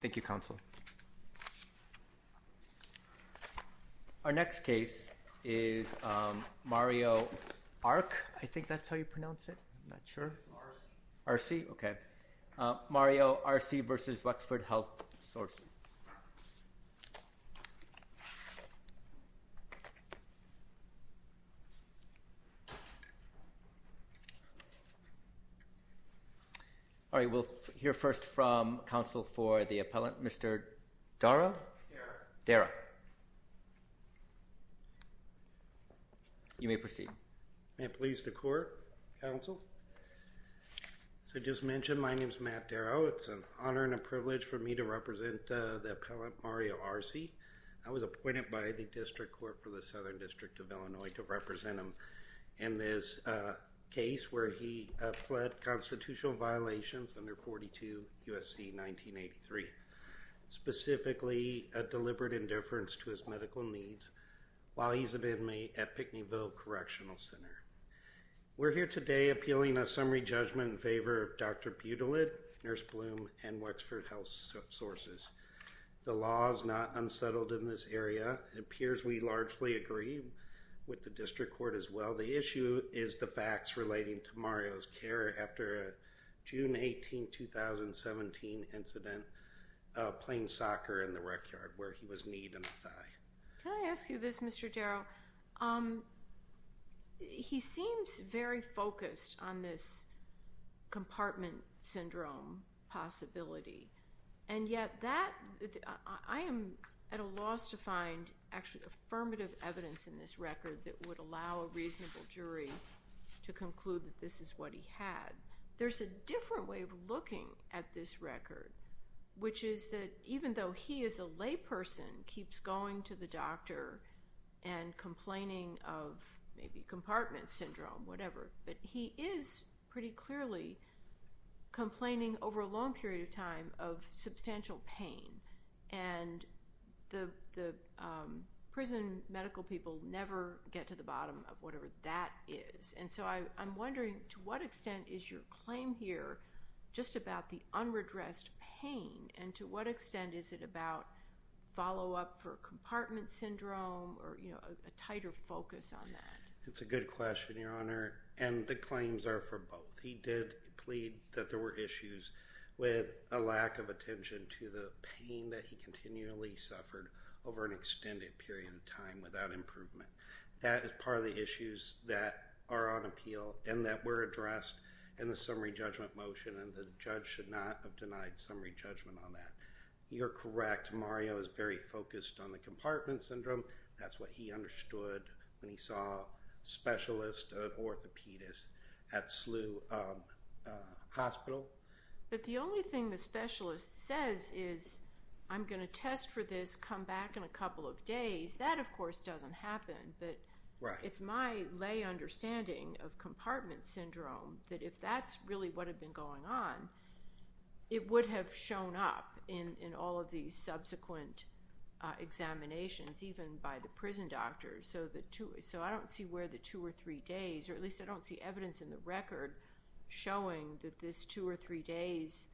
Thank you, Counsel. Our next case is Mario Arce. I think that's how you pronounce it. I'm not sure. Arce. Arce? Okay. Mario Arce v. Wexford Health Sources. All right. We'll hear first from Counsel for the appellant. Mr. Darrow? Darrow. Darrow. You may proceed. May it please the Court, Counsel. As I just mentioned, my name is Matt Darrow. It's an honor and a privilege for me to represent the appellant Mario Arce. I was appointed by the District Court for the Southern District of Illinois to represent him in this case where he fled constitutional violations under 42 U.S.C. 1983, specifically a deliberate indifference to his medical needs while he's an inmate at Pickneyville Correctional Center. We're here today appealing a summary judgment in favor of Dr. Budelid, Nurse Bloom, and Wexford Health Sources. The law is not unsettled in this area. It appears we largely agree with the District Court as well. The issue is the facts relating to Mario's care after a June 18, 2017 incident playing soccer in the rec yard where he was kneed in the thigh. Can I ask you this, Mr. Darrow? He seems very focused on this compartment syndrome possibility, and yet I am at a loss to find actually affirmative evidence in this record that would allow a reasonable jury to conclude that this is what he had. There's a different way of looking at this record, which is that even though he as a layperson keeps going to the doctor and complaining of maybe compartment syndrome, whatever, but he is pretty clearly complaining over a long period of time of substantial pain, and the prison medical people never get to the bottom of whatever that is. And so I'm wondering to what extent is your claim here just about the unredressed pain, and to what extent is it about follow-up for compartment syndrome or a tighter focus on that? It's a good question, Your Honor, and the claims are for both. He did plead that there were issues with a lack of attention to the pain that he continually suffered over an extended period of time without improvement. That is part of the issues that are on appeal and that were addressed in the summary judgment motion, and the judge should not have denied summary judgment on that. You're correct. Mario is very focused on the compartment syndrome. That's what he understood when he saw a specialist, an orthopedist at SLU Hospital. But the only thing the specialist says is, I'm going to test for this, come back in a couple of days. That, of course, doesn't happen. But it's my lay understanding of compartment syndrome that if that's really what had been going on, it would have shown up in all of these subsequent examinations, even by the prison doctors. So I don't see where the two or three days, or at least I don't see evidence in the record, showing that this two or three days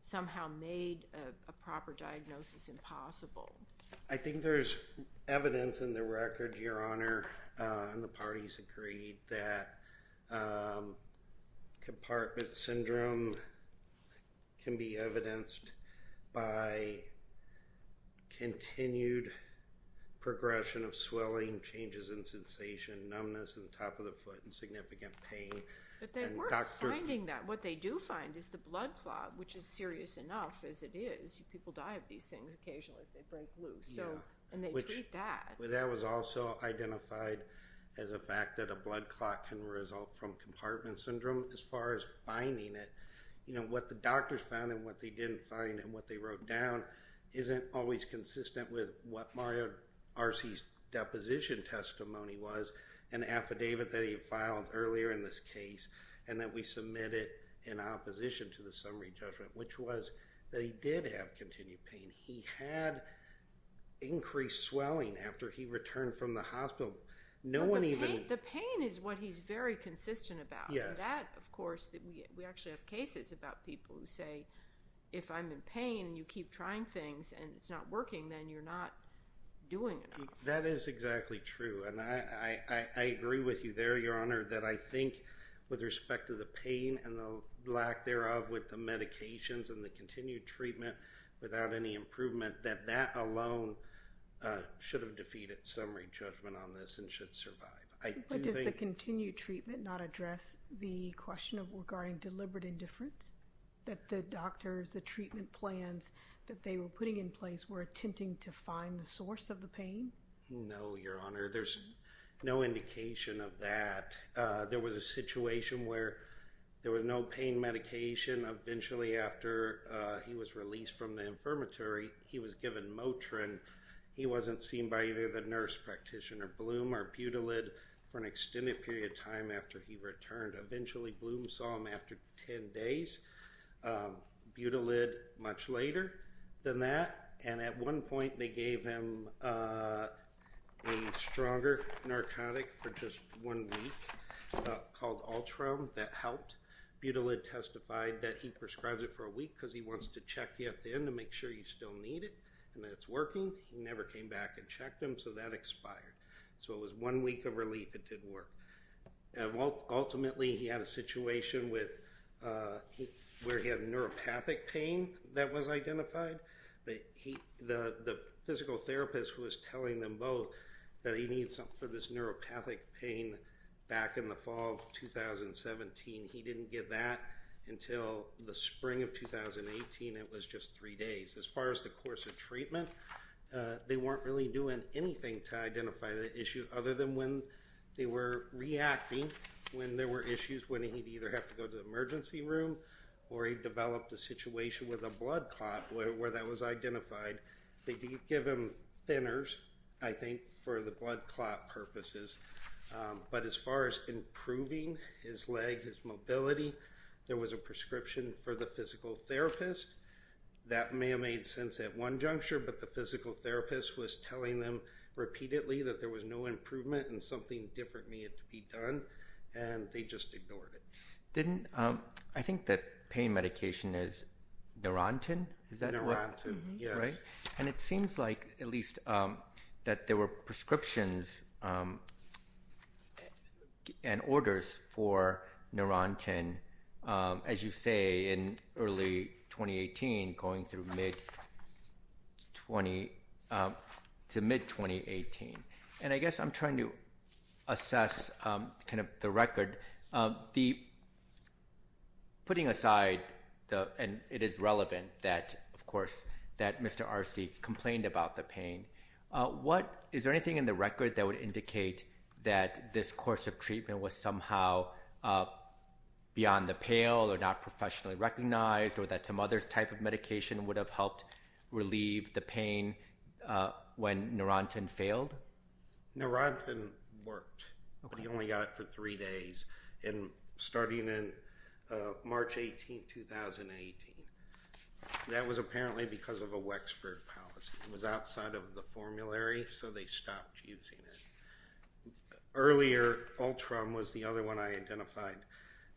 somehow made a proper diagnosis impossible. I think there's evidence in the record, Your Honor, and the parties agreed that compartment syndrome can be evidenced by continued progression of swelling, changes in sensation, numbness at the top of the foot, and significant pain. But they weren't finding that. What they do find is the blood clot, which is serious enough as it is. You see people die of these things occasionally if they break loose, and they treat that. That was also identified as a fact that a blood clot can result from compartment syndrome as far as finding it. What the doctors found and what they didn't find and what they wrote down isn't always consistent with what Mario Arce's deposition testimony was, an affidavit that he filed earlier in this case, and that we submitted in opposition to the summary judgment, which was that he did have continued pain. He had increased swelling after he returned from the hospital. The pain is what he's very consistent about. That, of course, we actually have cases about people who say, if I'm in pain and you keep trying things and it's not working, then you're not doing enough. That is exactly true, and I agree with you there, Your Honor, that I think with respect to the pain and the lack thereof with the medications and the continued treatment without any improvement, that that alone should have defeated summary judgment on this and should survive. But does the continued treatment not address the question regarding deliberate indifference, that the doctors, the treatment plans that they were putting in place were attempting to find the source of the pain? No, Your Honor, there's no indication of that. There was a situation where there was no pain medication. Eventually, after he was released from the infirmary, he was given Motrin. He wasn't seen by either the nurse practitioner, Bloom, or Butylid for an extended period of time after he returned. Eventually, Bloom saw him after 10 days, Butylid much later than that, and at one point they gave him a stronger narcotic for just one week called Ultram that helped. Butylid testified that he prescribes it for a week because he wants to check you at the end to make sure you still need it and that it's working. He never came back and checked him, so that expired. So it was one week of relief. It did work. Ultimately, he had a situation where he had a neuropathic pain that was identified, but the physical therapist was telling them both that he needed something for this neuropathic pain back in the fall of 2017. He didn't get that until the spring of 2018. It was just three days. As far as the course of treatment, they weren't really doing anything to identify the issue other than when they were reacting when there were issues when he'd either have to go to the emergency room or he developed a situation with a blood clot where that was identified. They did give him thinners, I think, for the blood clot purposes. But as far as improving his leg, his mobility, there was a prescription for the physical therapist. That may have made sense at one juncture, but the physical therapist was telling them repeatedly that there was no improvement and something different needed to be done, and they just ignored it. I think the pain medication is Neurontin, is that right? Neurontin, yes. It seems like at least that there were prescriptions and orders for Neurontin, as you say, in early 2018 going to mid-2018. I guess I'm trying to assess the record. Putting aside, and it is relevant that Mr. Arce complained about the pain, is there anything in the record that would indicate that this course of treatment was somehow beyond the pale or not professionally recognized or that some other type of medication would have helped relieve the pain when Neurontin failed? Neurontin worked, but he only got it for three days. And starting in March 18, 2018, that was apparently because of a Wexford policy. It was outside of the formulary, so they stopped using it. Earlier, Ultram was the other one I identified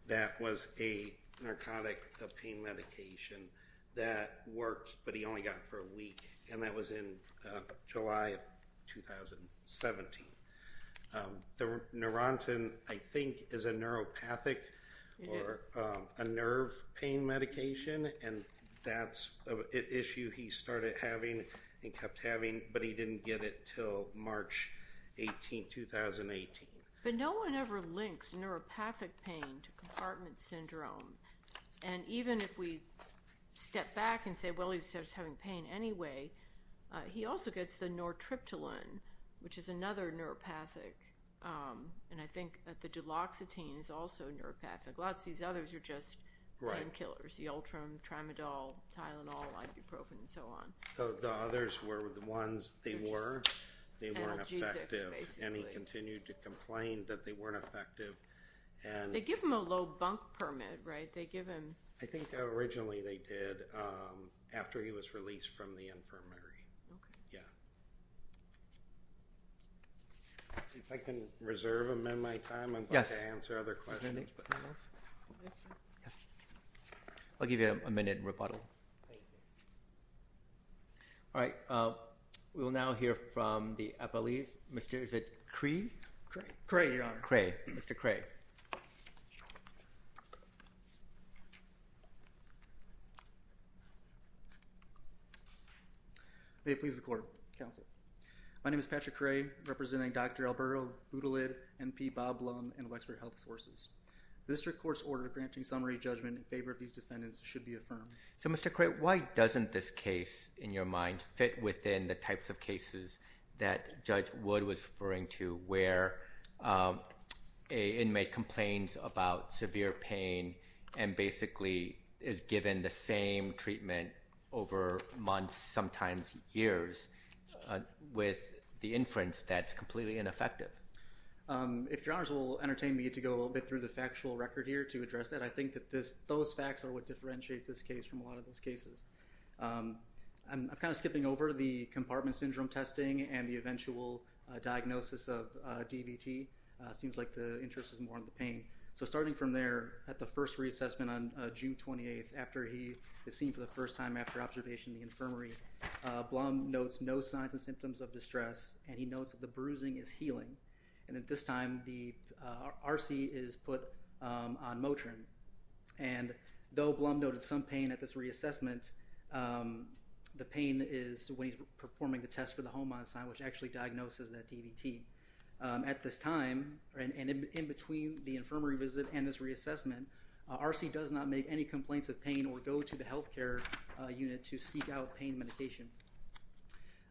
that was a narcotic pain medication that worked, but he only got it for a week, and that was in July of 2017. The Neurontin, I think, is a neuropathic or a nerve pain medication, and that's an issue he started having and kept having, but he didn't get it until March 18, 2018. But no one ever links neuropathic pain to compartment syndrome. And even if we step back and say, well, he was just having pain anyway, he also gets the nortriptyline, which is another neuropathic, and I think the duloxetine is also neuropathic. Lots of these others are just painkillers, the Ultram, Trimadol, Tylenol, ibuprofen, and so on. The others were the ones they were, they weren't effective, and he continued to complain that they weren't effective. They give him a low bunk permit, right? I think originally they did, after he was released from the infirmary. If I can reserve a minute of my time, I'm going to answer other questions. I'll give you a minute and rebuttal. Thank you. All right. We will now hear from the appellees. Is it Cree? Cray, Your Honor. Cray. Mr. Cray. May it please the Court. Counsel. My name is Patrick Cray, representing Dr. Alberto Boutilid, MP Bob Blum, and Wexford Health Sources. The district court's order granting summary judgment in favor of these defendants should be affirmed. So, Mr. Cray, why doesn't this case, in your mind, fit within the types of cases that Judge Wood was referring to, where an inmate complains about severe pain and basically is given the same treatment over months, sometimes years, with the inference that it's completely ineffective? If Your Honors will entertain me to go a little bit through the factual record here to address that, I think that those facts are what differentiates this case from a lot of those cases. I'm kind of skipping over the compartment syndrome testing and the eventual diagnosis of DVT. It seems like the interest is more in the pain. So starting from there, at the first reassessment on June 28th, after he is seen for the first time after observation in the infirmary, Blum notes no signs and symptoms of distress, and he notes that the bruising is healing. And at this time, the R.C. is put on Motrin. And though Blum noted some pain at this reassessment, the pain is when he's performing the test for the Holman sign, which actually diagnoses that DVT. At this time, and in between the infirmary visit and this reassessment, R.C. does not make any complaints of pain or go to the health care unit to seek out pain medication.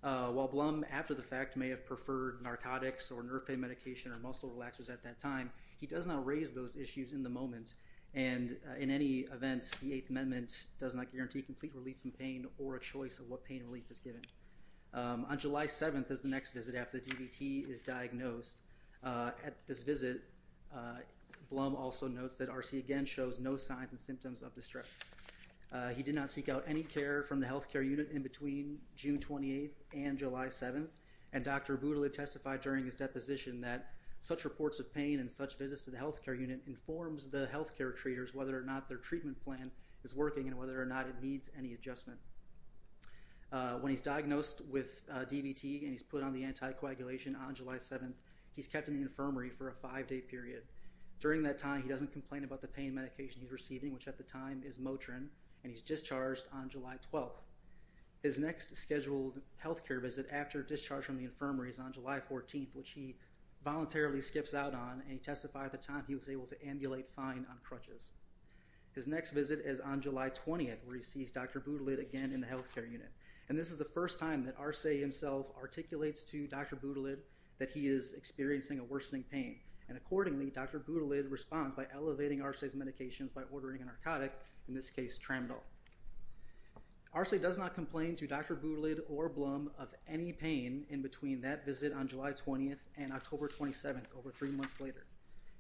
While Blum, after the fact, may have preferred narcotics or nerve pain medication or muscle relaxers at that time, he does not raise those issues in the moment. And in any event, the Eighth Amendment does not guarantee complete relief from pain or a choice of what pain relief is given. On July 7th is the next visit after the DVT is diagnosed. At this visit, Blum also notes that R.C. again shows no signs and symptoms of distress. He did not seek out any care from the health care unit in between June 28th and July 7th, and Dr. Boodle had testified during his deposition that such reports of pain and such visits to the health care unit informs the health care treaters whether or not their treatment plan is working and whether or not it needs any adjustment. When he's diagnosed with DVT and he's put on the anticoagulation on July 7th, he's kept in the infirmary for a five-day period. During that time, he doesn't complain about the pain medication he's receiving, which at the time is Motrin, and he's discharged on July 12th. His next scheduled health care visit after discharge from the infirmary is on July 14th, which he voluntarily skips out on, and he testified at the time he was able to ambulate fine on crutches. His next visit is on July 20th, where he sees Dr. Boodle again in the health care unit. And this is the first time that R.C. himself articulates to Dr. Boodle that he is experiencing a worsening pain. And accordingly, Dr. Boodle responds by elevating R.C.'s medications by ordering a narcotic, in this case Tramadol. R.C. does not complain to Dr. Boodle or Blum of any pain in between that visit on July 20th and October 27th, over three months later.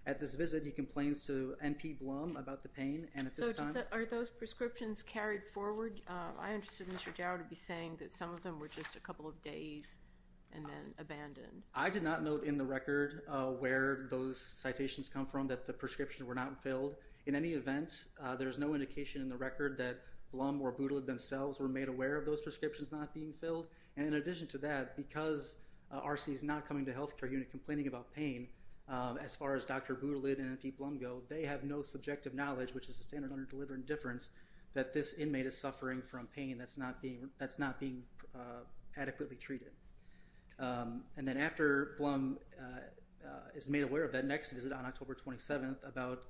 At this visit, he complains to N.P. Blum about the pain, and at this time— So are those prescriptions carried forward? I understood Mr. Jauer to be saying that some of them were just a couple of days and then abandoned. I did not note in the record where those citations come from that the prescriptions were not filled. In any event, there is no indication in the record that Blum or Boodle themselves were made aware of those prescriptions not being filled. And in addition to that, because R.C. is not coming to the health care unit complaining about pain, as far as Dr. Boodle and N.P. Blum go, they have no subjective knowledge, which is the standard under deliberate indifference, that this inmate is suffering from pain that's not being adequately treated. And then after Blum is made aware of that next visit on October 27th about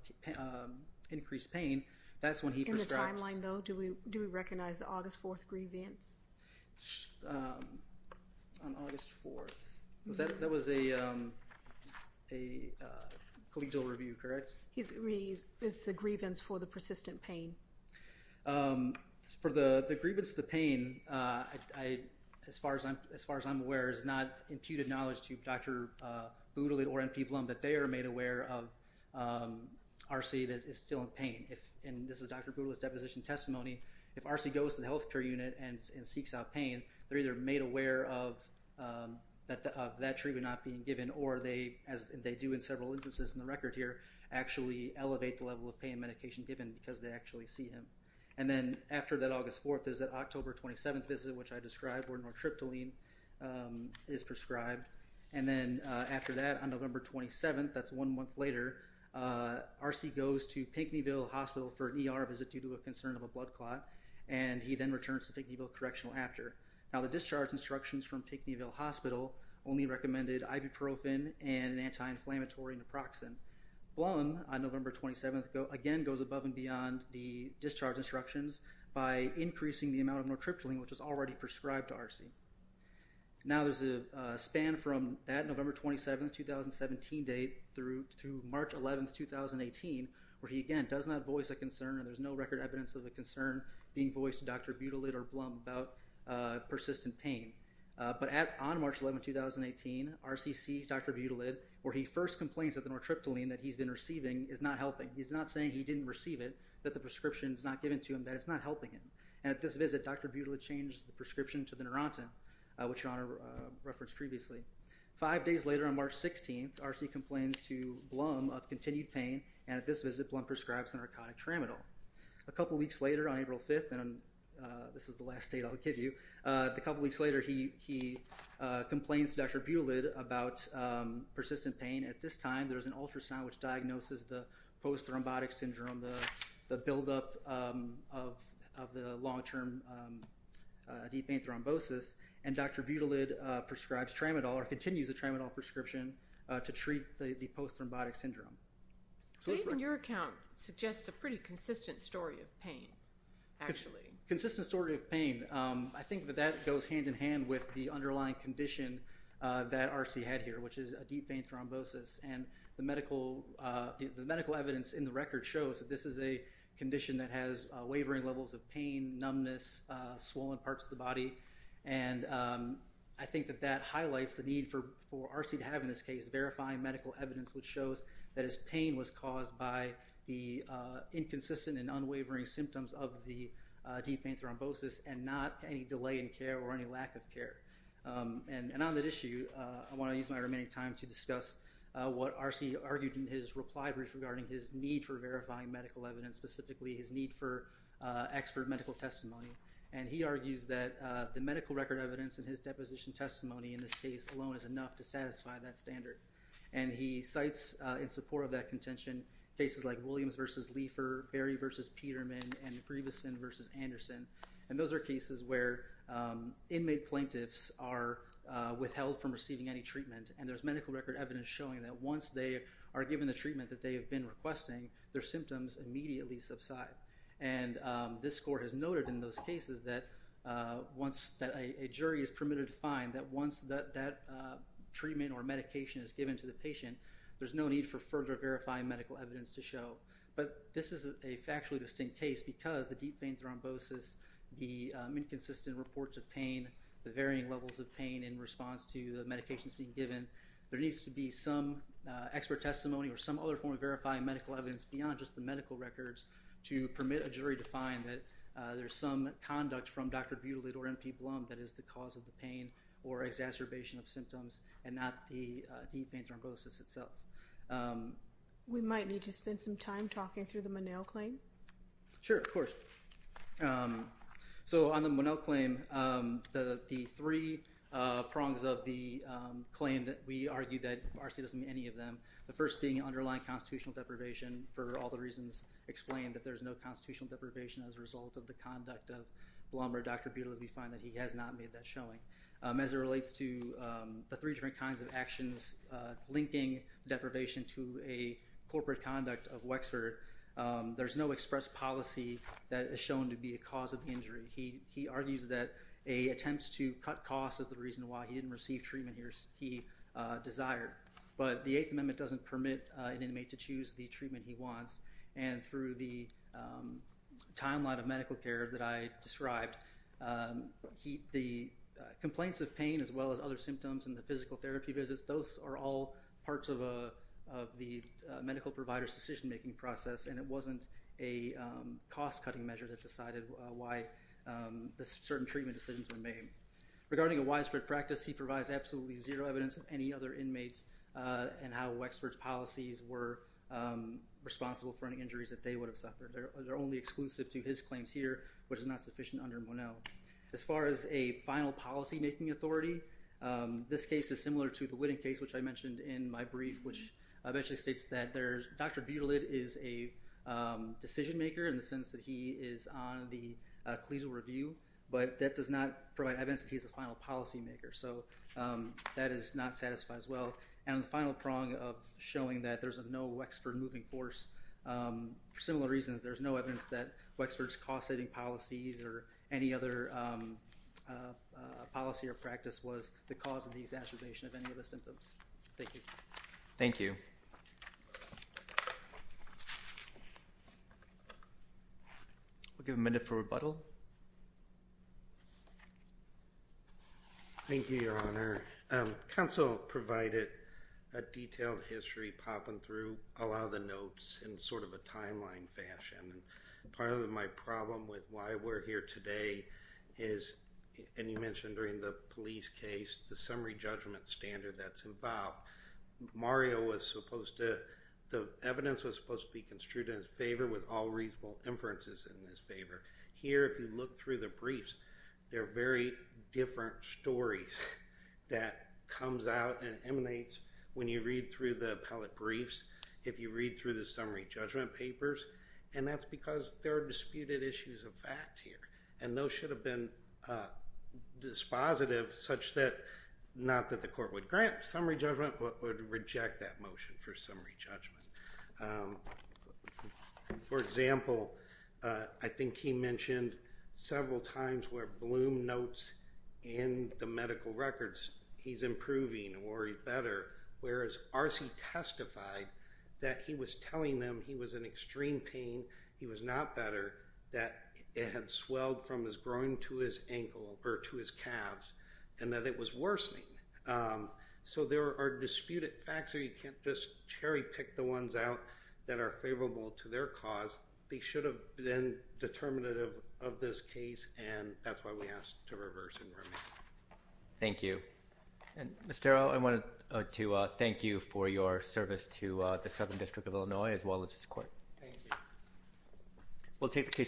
increased pain, that's when he prescribes— In the timeline, though, do we recognize the August 4th grievance? On August 4th. That was a collegial review, correct? It's the grievance for the persistent pain. For the grievance of the pain, as far as I'm aware, it's not imputed knowledge to Dr. Boodle or N.P. Blum that they are made aware of R.C. that is still in pain. And this is Dr. Boodle's deposition testimony. If R.C. goes to the health care unit and seeks out pain, they're either made aware of that treatment not being given or they, as they do in several instances in the record here, actually elevate the level of pain medication given because they actually see him. And then after that August 4th visit, October 27th visit, which I described where nortriptyline is prescribed, and then after that on November 27th, that's one month later, R.C. goes to Pinckneyville Hospital for an ER visit due to a concern of a blood clot, and he then returns to Pinckneyville Correctional after. Now the discharge instructions from Pinckneyville Hospital only recommended ibuprofen and an anti-inflammatory naproxen. Blum, on November 27th, again goes above and beyond the discharge instructions by increasing the amount of nortriptyline, which is already prescribed to R.C. Now there's a span from that November 27th, 2017 date through March 11th, 2018, where he again does not voice a concern and there's no record evidence of a concern being voiced to Dr. Boodle or Blum about persistent pain. But on March 11th, 2018, R.C. sees Dr. Budelid where he first complains that the nortriptyline that he's been receiving is not helping. He's not saying he didn't receive it, that the prescription's not given to him, that it's not helping him. And at this visit, Dr. Budelid changed the prescription to the Neurontin, which your Honor referenced previously. Five days later on March 16th, R.C. complains to Blum of continued pain, and at this visit, Blum prescribes the narcotic Tramadol. A couple weeks later on April 5th, and this is the last date I'll give you, a couple weeks later he complains to Dr. Budelid about persistent pain. At this time, there's an ultrasound which diagnoses the post-thrombotic syndrome, the buildup of the long-term deep vein thrombosis, and Dr. Budelid prescribes Tramadol or continues the Tramadol prescription to treat the post-thrombotic syndrome. So even your account suggests a pretty consistent story of pain, actually. Consistent story of pain. I think that that goes hand-in-hand with the underlying condition that R.C. had here, which is a deep vein thrombosis. And the medical evidence in the record shows that this is a condition that has wavering levels of pain, numbness, swollen parts of the body. And I think that that highlights the need for R.C. to have, in this case, verifying medical evidence which shows that his pain was caused by the inconsistent and unwavering symptoms of the deep vein thrombosis and not any delay in care or any lack of care. And on that issue, I want to use my remaining time to discuss what R.C. argued in his reply brief regarding his need for verifying medical evidence, specifically his need for expert medical testimony. And he argues that the medical record evidence in his deposition testimony in this case alone is enough to satisfy that standard. And he cites, in support of that contention, cases like Williams v. Leifer, Berry v. Peterman, and Grieveson v. Anderson. And those are cases where inmate plaintiffs are withheld from receiving any treatment. And there's medical record evidence showing that once they are given the treatment that they have been requesting, their symptoms immediately subside. And this Court has noted in those cases that a jury is permitted to find that once that treatment or medication is given to the patient, there's no need for further verifying medical evidence to show. But this is a factually distinct case because the deep vein thrombosis, the inconsistent reports of pain, the varying levels of pain in response to the medications being given, there needs to be some expert testimony or some other form of verifying medical evidence beyond just the medical records to permit a jury to find that there's some conduct from Dr. Butelid or M.P. Blum that is the cause of the pain or exacerbation of symptoms and not the deep vein thrombosis itself. We might need to spend some time talking through the Monell claim. Sure, of course. So on the Monell claim, the three prongs of the claim that we argue that R.C. doesn't meet any of them, the first being underlying constitutional deprivation for all the reasons explained, that there's no constitutional deprivation as a result of the conduct of Blum or Dr. Butelid, we find that he has not made that showing. As it relates to the three different kinds of actions linking deprivation to a corporate conduct of Wexford, there's no express policy that is shown to be a cause of injury. He argues that an attempt to cut costs is the reason why he didn't receive treatment he desired. But the Eighth Amendment doesn't permit an inmate to choose the treatment he wants, and through the timeline of medical care that I described, the complaints of pain as well as other symptoms and the physical therapy visits, those are all parts of the medical provider's decision-making process, and it wasn't a cost-cutting measure that decided why certain treatment decisions were made. Regarding a widespread practice, he provides absolutely zero evidence of any other inmates and how Wexford's policies were responsible for any injuries that they would have suffered. They're only exclusive to his claims here, which is not sufficient under Monell. As far as a final policy-making authority, this case is similar to the Whitting case, which I mentioned in my brief, which eventually states that Dr. Butelid is a decision-maker in the sense that he is on the collegial review, but that does not provide evidence that he's a final policy-maker. So that is not satisfied as well. And the final prong of showing that there's no Wexford moving force, for similar reasons, there's no evidence that Wexford's cost-saving policies or any other policy or practice was the cause of the exacerbation of any of the symptoms. Thank you. Thank you. We'll give a minute for rebuttal. Thank you, Your Honor. Counsel provided a detailed history, popping through a lot of the notes in sort of a timeline fashion. Part of my problem with why we're here today is, and you mentioned during the police case, the summary judgment standard that's involved. Mario was supposed to, the evidence was supposed to be construed in his favor with all reasonable inferences in his favor. Here, if you look through the briefs, there are very different stories that comes out and emanates when you read through the appellate briefs, if you read through the summary judgment papers, and that's because there are disputed issues of fact here. And those should have been dispositive such that, not that the court would grant summary judgment, but would reject that motion for summary judgment. For example, I think he mentioned several times where Bloom notes in the medical records, he's improving or he's better, whereas Arce testified that he was telling them he was in extreme pain, he was not better, that it had swelled from his groin to his ankle or to his calves, and that it was worsening. So there are disputed facts here. You can't just cherry pick the ones out that are favorable to their cause. They should have been determinative of this case, and that's why we asked to reverse and remain. Thank you. And Mr. Arrow, I wanted to thank you for your service to the Southern District of Illinois as well as this court. Thank you.